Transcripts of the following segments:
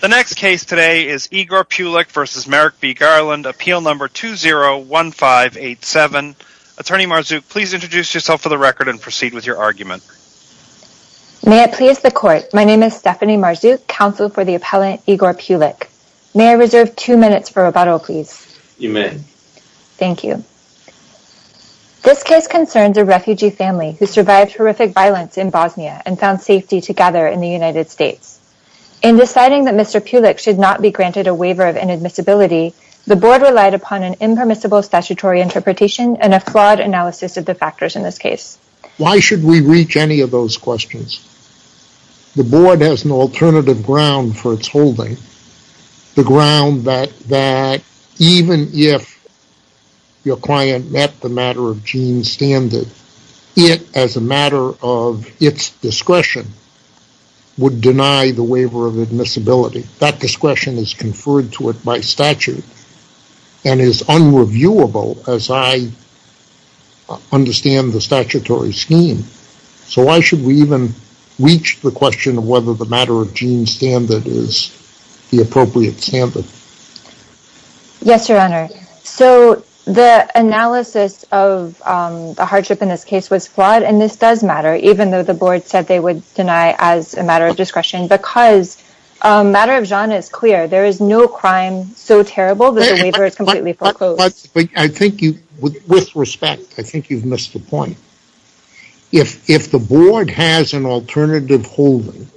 The next case today is Igor Peulic v. Merrick B. Garland, Appeal No. 201587. Attorney Marzouk, please introduce yourself for the record and proceed with your argument. May it please the Court, my name is Stephanie Marzouk, counsel for the appellant Igor Peulic. May I reserve two minutes for rebuttal, please? You may. Thank you. This case concerns a refugee family who survived horrific violence in Bosnia and found safety together in the United States. In deciding that Mr. Peulic should not be granted a waiver of inadmissibility, the Board relied upon an impermissible statutory interpretation and a flawed analysis of the factors in this case. Why should we reach any of those questions? The Board has an alternative ground for its holding, the ground that even if your client met the matter of Jean's standard, it, as a matter of its discretion, would deny the waiver of admissibility. That discretion is conferred to it by statute and is unreviewable as I understand the statutory scheme. So why should we even reach the question of whether the matter of Jean's standard is the appropriate standard? Yes, Your Honor. So the analysis of the hardship in this case was flawed and this does matter, even though the Board said they would deny as a matter of discretion, because the matter of Jean is clear. There is no crime so terrible that the waiver is completely foreclosed. But I think you, with respect, I think you've missed the point. If the Board has an alternative holding,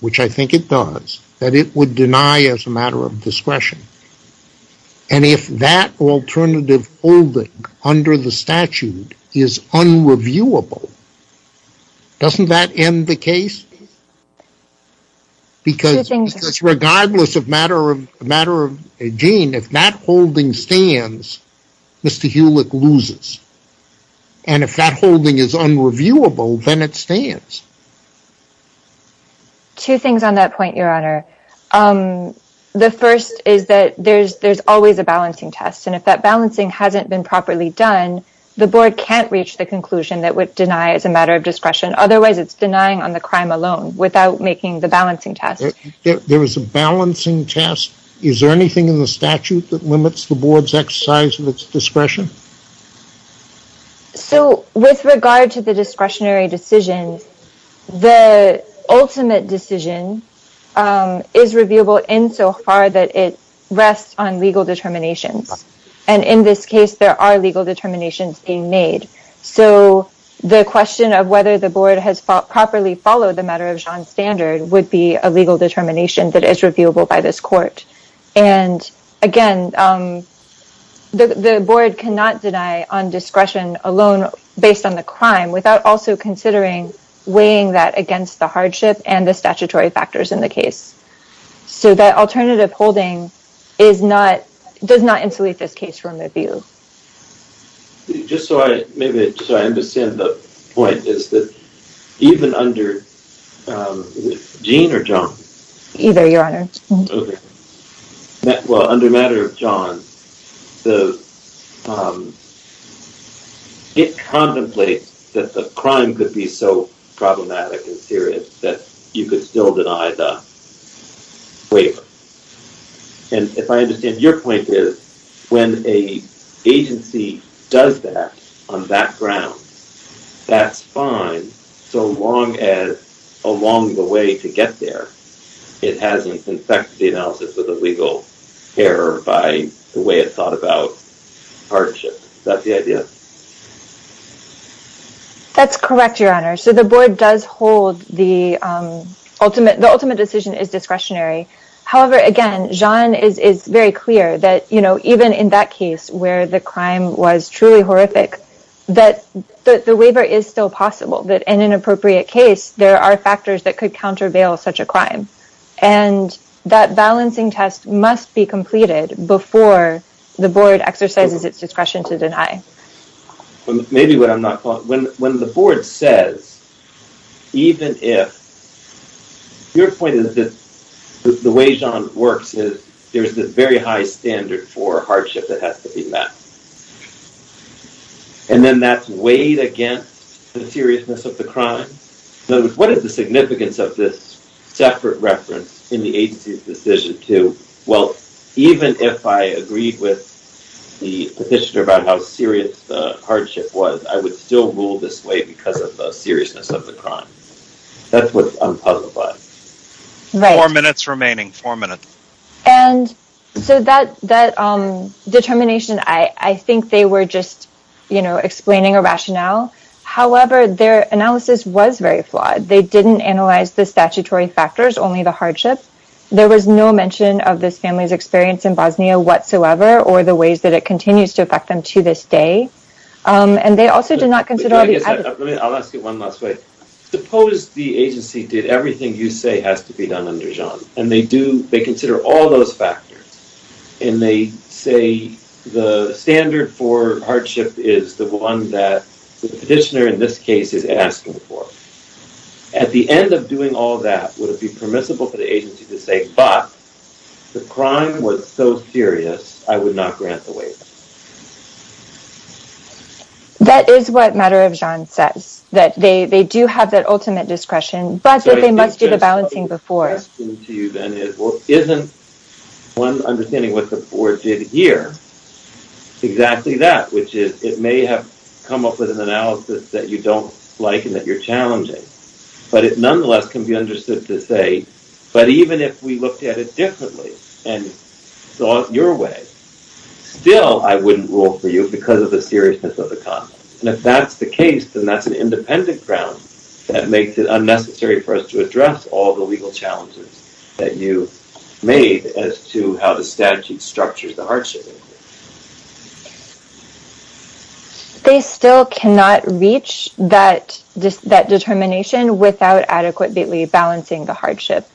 which I think it does, that it would deny as a matter of discretion. And if that alternative holding under the statute is unreviewable, doesn't that end the case? Because regardless of matter of Jean, if that holding stands, Mr. Hulick loses. And if that holding is unreviewable, then it stands. Two things on that point, Your Honor. Um, the first is that there's always a balancing test. And if that balancing hasn't been properly done, the Board can't reach the conclusion that would deny as a matter of discretion. Otherwise, it's denying on the crime alone without making the balancing test. There was a balancing test. Is there anything in the statute that limits the Board's exercise of its discretion? So with regard to the discretionary decision, the ultimate decision is reviewable insofar that it rests on legal determinations. And in this case, there are legal determinations being made. So the question of whether the Board has properly followed the matter of Jean's standard would be a legal determination that is reviewable by this Court. And again, the Board cannot deny on discretion alone based on the crime without also considering weighing that against the hardship and the statutory factors in the case. So that alternative holding does not insulate this case from review. Just so I understand the point is that even under Jean or John? Either, Your Honor. Okay. Well, under matter of John, it contemplates that the crime could be so problematic and serious that you could still deny the waiver. And if I understand your point is when an agency does that on that ground, that's fine so long as along the way to get there, it hasn't infected the analysis of the legal care by the way it thought about hardship. Is that the idea? That's correct, Your Honor. So the Board does hold the ultimate decision is discretionary. However, again, Jean is very clear that even in that case where the crime was truly horrific, that the waiver is still possible. That in an appropriate case, there are factors that could countervail such a crime. And that balancing test must be completed before the Board exercises its discretion to deny. Maybe what I'm not, when the Board says, even if your point is that the way Jean works is there's a very high standard for hardship that has to be met. And then that's weighed against the seriousness of the crime. In other words, what is the significance of this separate reference in the agency's decision to, well, even if I agreed with the petitioner about how serious the hardship was, I would still rule this way because of the seriousness of the crime. That's what I'm puzzled by. Four minutes remaining, four minutes. And so that determination, I think they were just explaining a rationale. However, their analysis was very flawed. They didn't analyze the statutory factors, only the hardship. There was no mention of this family's experience in Bosnia whatsoever, or the ways that it continues to affect them to this day. And they also did not consider all the evidence. I'll ask you one last way. Suppose the agency did everything you say has to be done under Jean, and they do, they consider all those factors, and they say the standard for hardship is the one that the petitioner in this case is asking for. At the end of doing all that, would it be permissible for the agency to say, but the crime was so serious, I would not grant the waiver? That is what matter of Jean says, that they do have that ultimate discretion, but that they must do the balancing before. My question to you then is, well, isn't one understanding what the board did here, exactly that, which is, it may have come up with an analysis that you don't like, and that you're challenging, but it nonetheless can be understood to say, but even if we looked at it differently, and thought your way, still, I wouldn't rule for you because of the seriousness of the content. And if that's the case, then that's an independent ground that makes it unnecessary for us to address all the legal challenges that you made as to how the statute structures the hardship. They still cannot reach that determination without adequately balancing the hardship.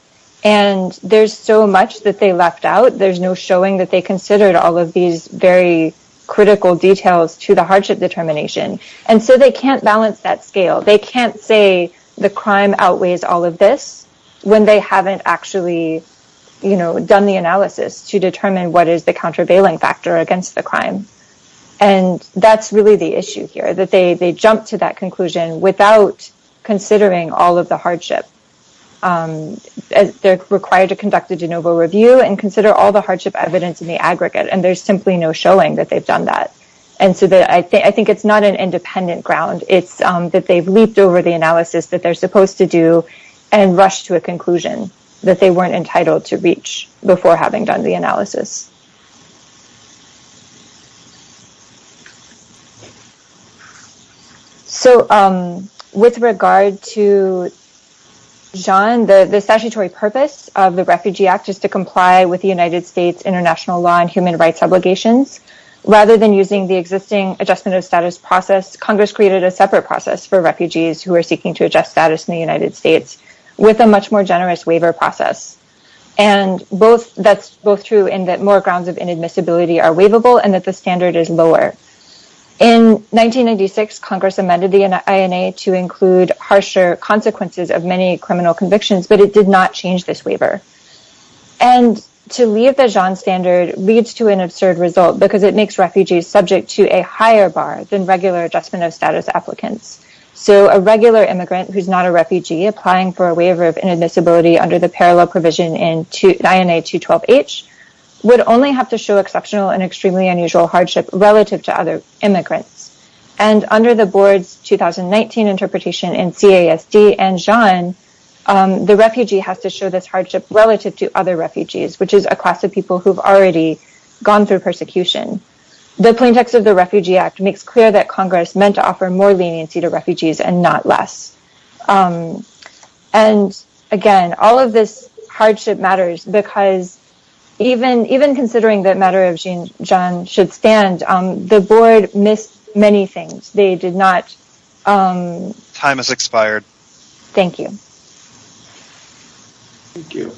And there's so much that they left out, there's no showing that they considered all of these very critical details to the hardship determination. And so they can't balance that scale. They can't say the crime outweighs all of this when they haven't actually done the analysis to determine what is the countervailing factor against the crime. And that's really the issue here, that they jump to that conclusion without considering all of the hardship. They're required to conduct a de novo review and consider all the hardship evidence in the aggregate, and there's simply no showing that they've done that. And so I think it's not an independent ground, it's that they've leaped over the analysis that they're supposed to do and rush to a conclusion that they weren't entitled to reach before having done the analysis. So with regard to John, the statutory purpose of the Refugee Act is to comply with the United Congress created a separate process for refugees who are seeking to adjust status in the United States with a much more generous waiver process. And that's both true in that more grounds of inadmissibility are waivable and that the standard is lower. In 1996, Congress amended the INA to include harsher consequences of many criminal convictions, but it did not change this waiver. And to leave the John standard leads to an absurd result because it makes refugees subject to a higher bar than regular adjustment of status applicants. So a regular immigrant who's not a refugee applying for a waiver of inadmissibility under the parallel provision in INA 212H would only have to show exceptional and extremely unusual hardship relative to other immigrants. And under the board's 2019 interpretation in CASD and John, the refugee has to show this relative to other refugees, which is a class of people who've already gone through persecution. The plain text of the Refugee Act makes clear that Congress meant to offer more leniency to refugees and not less. And again, all of this hardship matters because even considering that matter of John should stand, the board missed many things. They did not. Time has expired. Thank you. Thank you.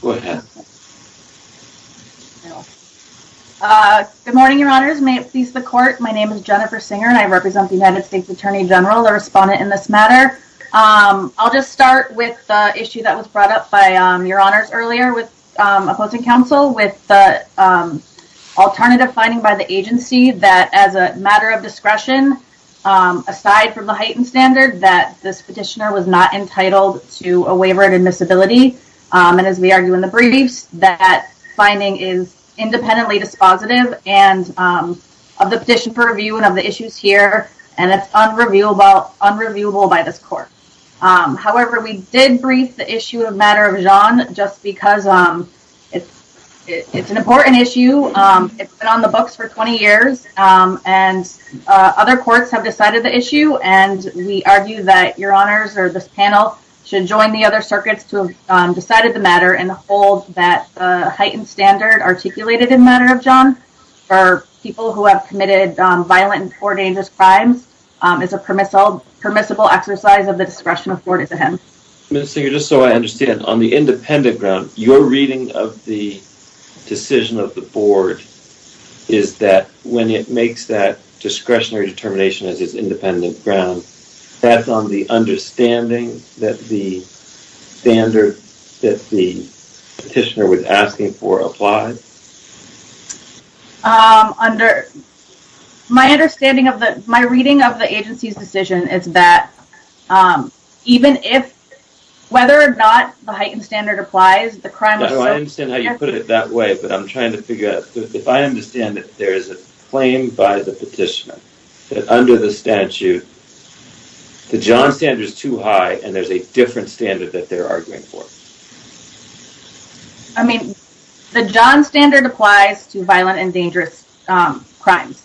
Go ahead. Good morning, your honors. May it please the court. My name is Jennifer Singer and I represent the United States Attorney General, a respondent in this matter. I'll just start with the issue that was brought up by your honors earlier with opposing counsel with the alternative finding by the agency that as a matter of discretion, aside from the heightened standard that this petitioner was not entitled to a waiver of admissibility. And as we argue in the briefs, that finding is independently dispositive and of the petition review and of the issues here. And it's unreviewable by this court. However, we did brief the issue of matter of John, just because it's an important issue. It's been on the books for 20 years and other courts have decided the issue. And we argue that your honors or this panel should join the other circuits to have decided the matter and hold that heightened standard articulated in matter of John for people who have committed violent or dangerous crimes. It's a permissible exercise of the discretion afforded to him. Ms. Singer, just so I understand, on the independent ground, your reading of the decision of the board is that when it makes that discretionary determination as its independent ground, that's on the understanding that the standard that the petitioner was asking for applied? My reading of the agency's decision is that even if, whether or not the heightened standard applies, the crime was so severe. I understand how you put it that way, but I'm trying to figure out, if I understand that there is a claim by the petitioner that under the statute, the John standard is too high and there's a different standard that they're arguing for. I mean, the John standard applies to violent and dangerous crimes.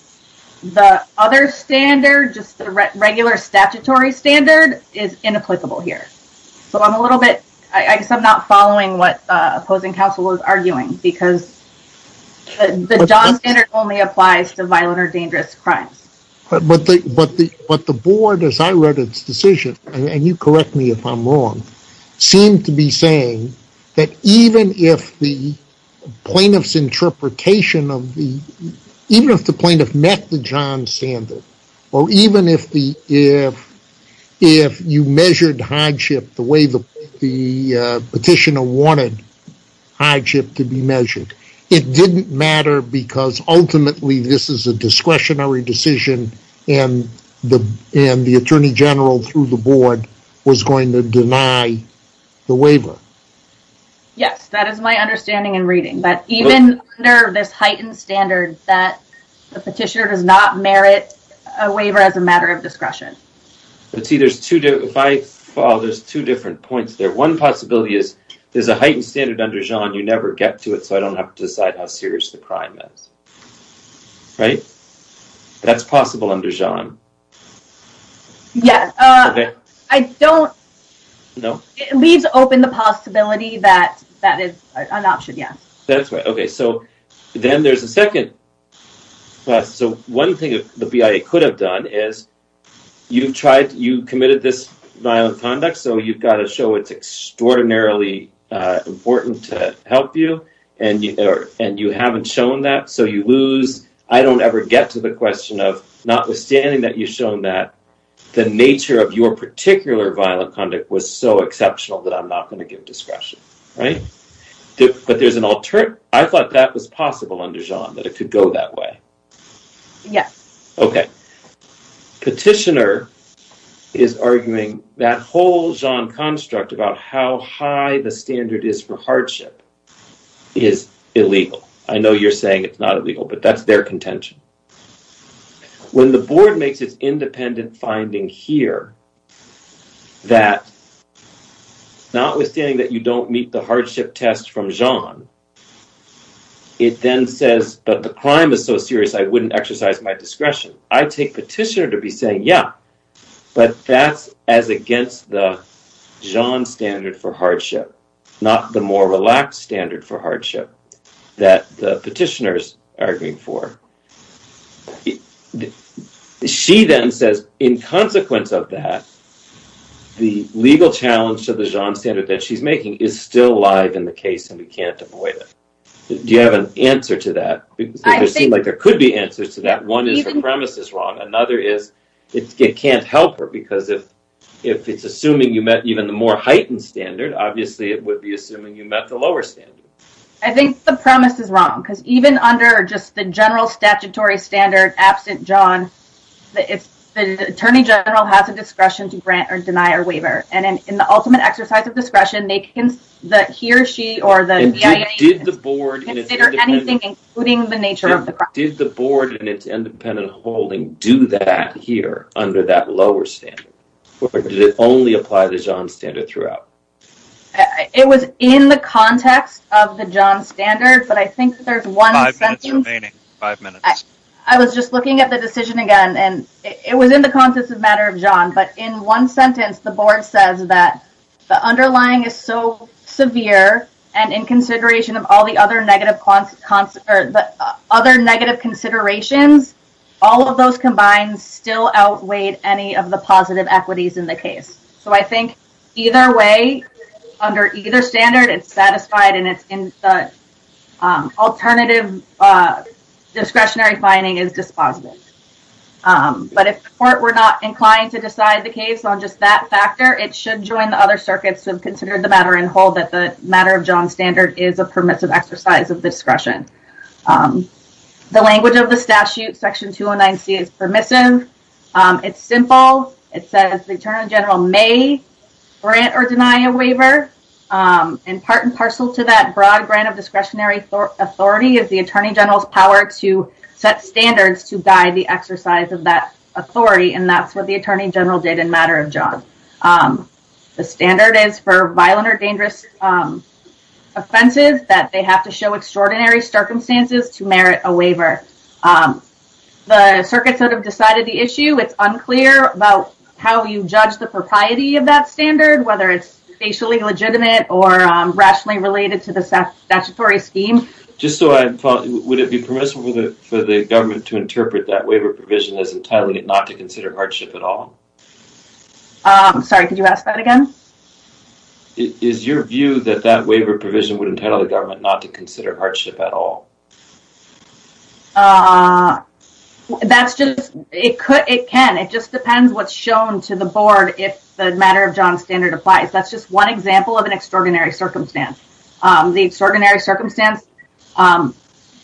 The other standard, just the regular statutory standard is inapplicable here. So I'm a little bit, I guess I'm not following what opposing counsel is arguing because the John standard only applies to violent or dangerous crimes. But the board, as I read its decision, and you correct me if I'm wrong, seemed to be that even if the plaintiff's interpretation of the, even if the plaintiff met the John standard, or even if you measured hardship the way the petitioner wanted hardship to be measured, it didn't matter because ultimately this is a discretionary decision and the attorney general through the board was going to deny the waiver. Yes, that is my understanding and reading. But even under this heightened standard that the petitioner does not merit a waiver as a matter of discretion. Let's see, there's two, if I follow, there's two different points there. One possibility is there's a heightened standard under John, you never get to it, so I don't have to decide how serious the crime is, right? That's possible under John? Yes. I don't, it leaves open the possibility that that is an option, yes. That's right. Okay, so then there's a second, so one thing the BIA could have done is you've tried, you committed this violent conduct, so you've got to show it's extraordinarily important to help you and you haven't shown that, so you lose, I don't ever get to the question of notwithstanding that you've shown that, the nature of your particular violent conduct was so exceptional that I'm not going to give discretion, right? But there's an, I thought that was possible under John, that it could go that way. Yes. Okay, petitioner is arguing that whole John construct about how high the standard is for hardship is illegal. I know you're saying it's not illegal, but that's their contention. When the board makes its independent finding here, that notwithstanding that you don't meet the hardship test from John, it then says, but the crime is so serious I wouldn't exercise my discretion. I take petitioner to be saying, yeah, but that's as against the John standard for hardship, not the more relaxed standard for hardship that the petitioner is arguing for. She then says, in consequence of that, the legal challenge to the John standard that she's making is still alive in the case and we can't avoid it. Do you have an answer to that? It seems like there could be answers to that. One is the premise is wrong. Another is it can't help her because if it's assuming you met even the more heightened standard, obviously it would be assuming you met the lower standard. I think the premise is wrong because even under just the general statutory standard absent John, the attorney general has a discretion to grant or deny a waiver and in the ultimate exercise of discretion, he or she or the BIA can consider anything including the nature of the crime. Did the board in its independent holding do that here under that lower standard or did it only apply the John standard throughout? It was in the context of the John standard, but I think there's one- Five minutes remaining. Five minutes. I was just looking at the decision again and it was in the context of matter of John, but in one sentence, the board says that the underlying is so severe and in consideration of all the other negative considerations, all of those combined still outweighed any of the positive equities in the case. So I think either way, under either standard, it's satisfied and it's in the alternative discretionary finding is dispositive. But if the court were not inclined to decide the case on just that factor, it should join the other circuits to have considered the matter and hold that the matter of John standard is a permissive exercise of discretion. The language of the statute section 209C is permissive. It's simple. It says the Attorney General may grant or deny a waiver and part and parcel to that broad grant of discretionary authority is the Attorney General's power to set standards to guide the exercise of that authority. And that's what the Attorney General did in matter of John. The standard is for violent or dangerous offenses that they have to show extraordinary circumstances to merit a waiver. The circuit sort of decided the issue. It's unclear about how you judge the propriety of that standard, whether it's facially legitimate or rationally related to the statutory scheme. Just so I would it be permissible for the government to interpret that waiver provision as entitling it not to consider hardship at all? Sorry, could you ask that again? Is your view that that waiver provision would entitle the government not to consider hardship at all? Uh, that's just, it could, it can. It just depends what's shown to the board. If the matter of John standard applies, that's just one example of an extraordinary circumstance. Um, the extraordinary circumstance, um,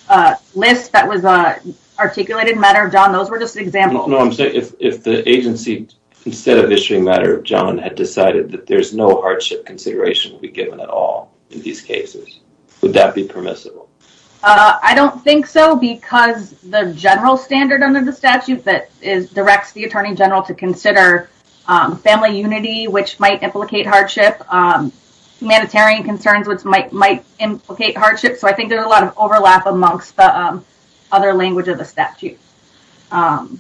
uh, list that was, uh, articulated matter of John, those were just examples. No, I'm saying if, if the agency, instead of issuing matter of John had decided that there's no hardship consideration will be given at all in these cases, would that be permissible? Uh, I don't think so because the general standard under the statute that is directs the attorney general to consider, um, family unity, which might implicate hardship, um, humanitarian concerns, which might, might implicate hardship. So I think there's a lot of overlap amongst the, um, other language of the statute. Um,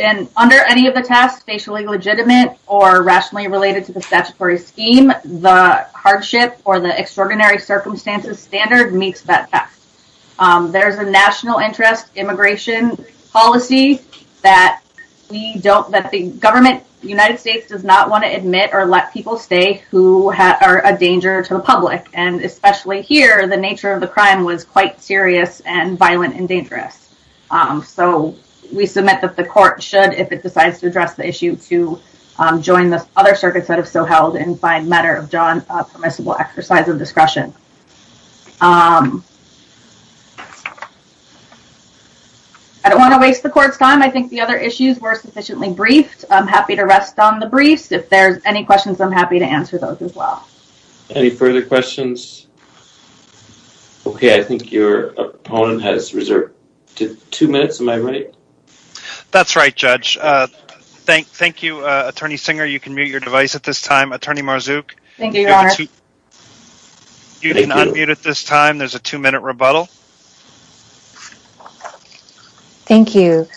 and under any of the tasks, facially legitimate or rationally related to the statutory scheme, the hardship or the extraordinary circumstances standard makes that fact. Um, there's a national interest immigration policy that we don't, that the government, United States does not want to admit or let people stay who are a danger to the public. And especially here, the nature of the crime was quite serious and violent and dangerous. Um, so we submit that the court should, if it decides to address the issue to, um, join the other circuits that have so held and by matter of John, a permissible exercise of discretion. Um, I don't want to waste the court's time. I think the other issues were sufficiently briefed. I'm happy to rest on the briefs. If there's any questions, I'm happy to answer those as well. Any further questions? Okay. I think your opponent has reserved two minutes. Am I right? That's right, Judge. Thank you, Attorney Singer. You can mute your device at this time. Attorney Marzouk, you can unmute at this time. There's a two minute rebuttal. Thank you,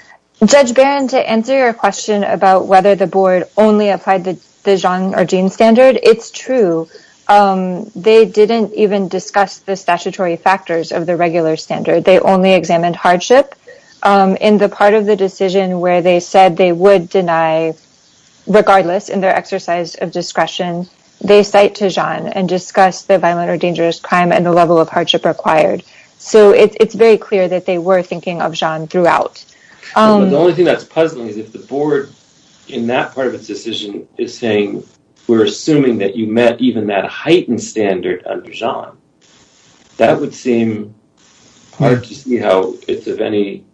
Judge Barron. To answer your question about whether the board only applied the Jean or Jean standard. It's true. Um, they didn't even discuss the statutory factors of the regular standard. They only examined hardship, um, in the part of the decision where they said they would deny, regardless in their exercise of discretion, they cite to Jean and discuss the violent or dangerous crime and the level of hardship required. So it's very clear that they were thinking of Jean throughout. The only thing that's puzzling is if the board in that part of its decision is saying, we're assuming that you met even that heightened standard under Jean. That would seem hard to see how it's of any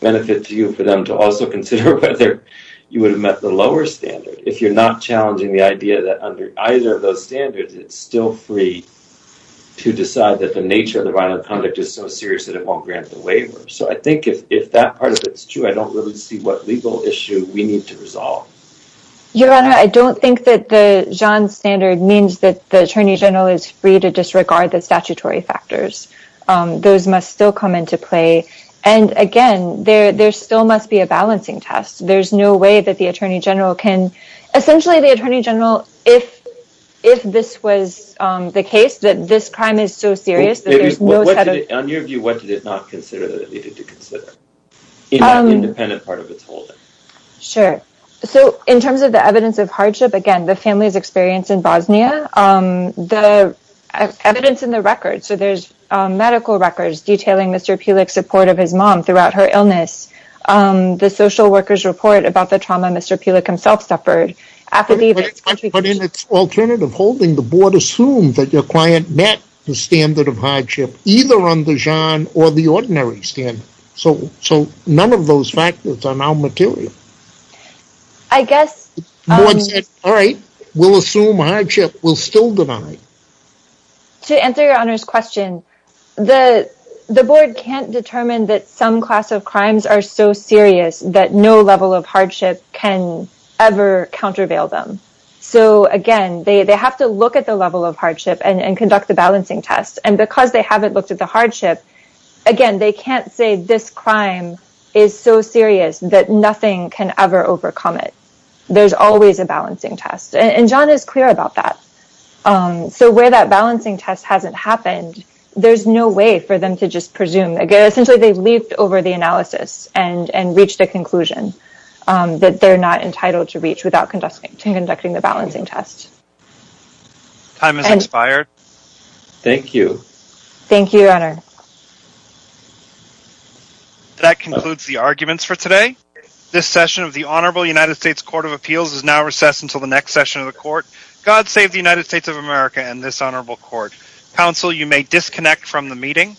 benefit to you for them to also consider whether you would have met the lower standard. If you're not challenging the idea that under either of those standards, it's still free to decide that the nature of the violent conduct is so serious that it won't grant the waiver. So I think if that part of it's true, I don't really see what legal issue we need to resolve. Your Honor, I don't think that the Jean standard means that the Attorney General is free to disregard the statutory factors. Those must still come into play. And again, there still must be a balancing test. There's no way that the Attorney General can... Essentially, the Attorney General, if this was the case, that this crime is so serious... On your view, what did it not consider that it needed to consider? Independent part of its holding. Sure. So in terms of the evidence of hardship, again, the family's experience in Bosnia, the evidence in the records. So there's medical records detailing Mr. Pulik's support of his mom throughout her illness, the social workers' report about the trauma Mr. Pulik himself suffered, affidavits... But in its alternative holding, the board assumed that your client met the standard of hardship, either on the Jean or the ordinary standard. So none of those factors are now material. I guess... All right. We'll assume hardship. We'll still deny. To answer your Honor's question, the board can't determine that some class of crimes are so serious that no level of hardship can ever countervail them. So again, they have to look at the level of hardship and conduct the balancing test. And because they haven't looked at the hardship, again, they can't say this crime is so serious that nothing can ever overcome it. There's always a balancing test. And John is clear about that. So where that balancing test hasn't happened, there's no way for them to just presume. Essentially, they've leaped over the analysis and reached a conclusion that they're not entitled to reach without conducting the balancing test. Time has expired. Thank you. Thank you, Your Honor. That concludes the arguments for today. This session of the Honorable United States Court of Appeals is now recessed until the next session of the court. God save the United States of America and this honorable court. Counsel, you may disconnect from the meeting.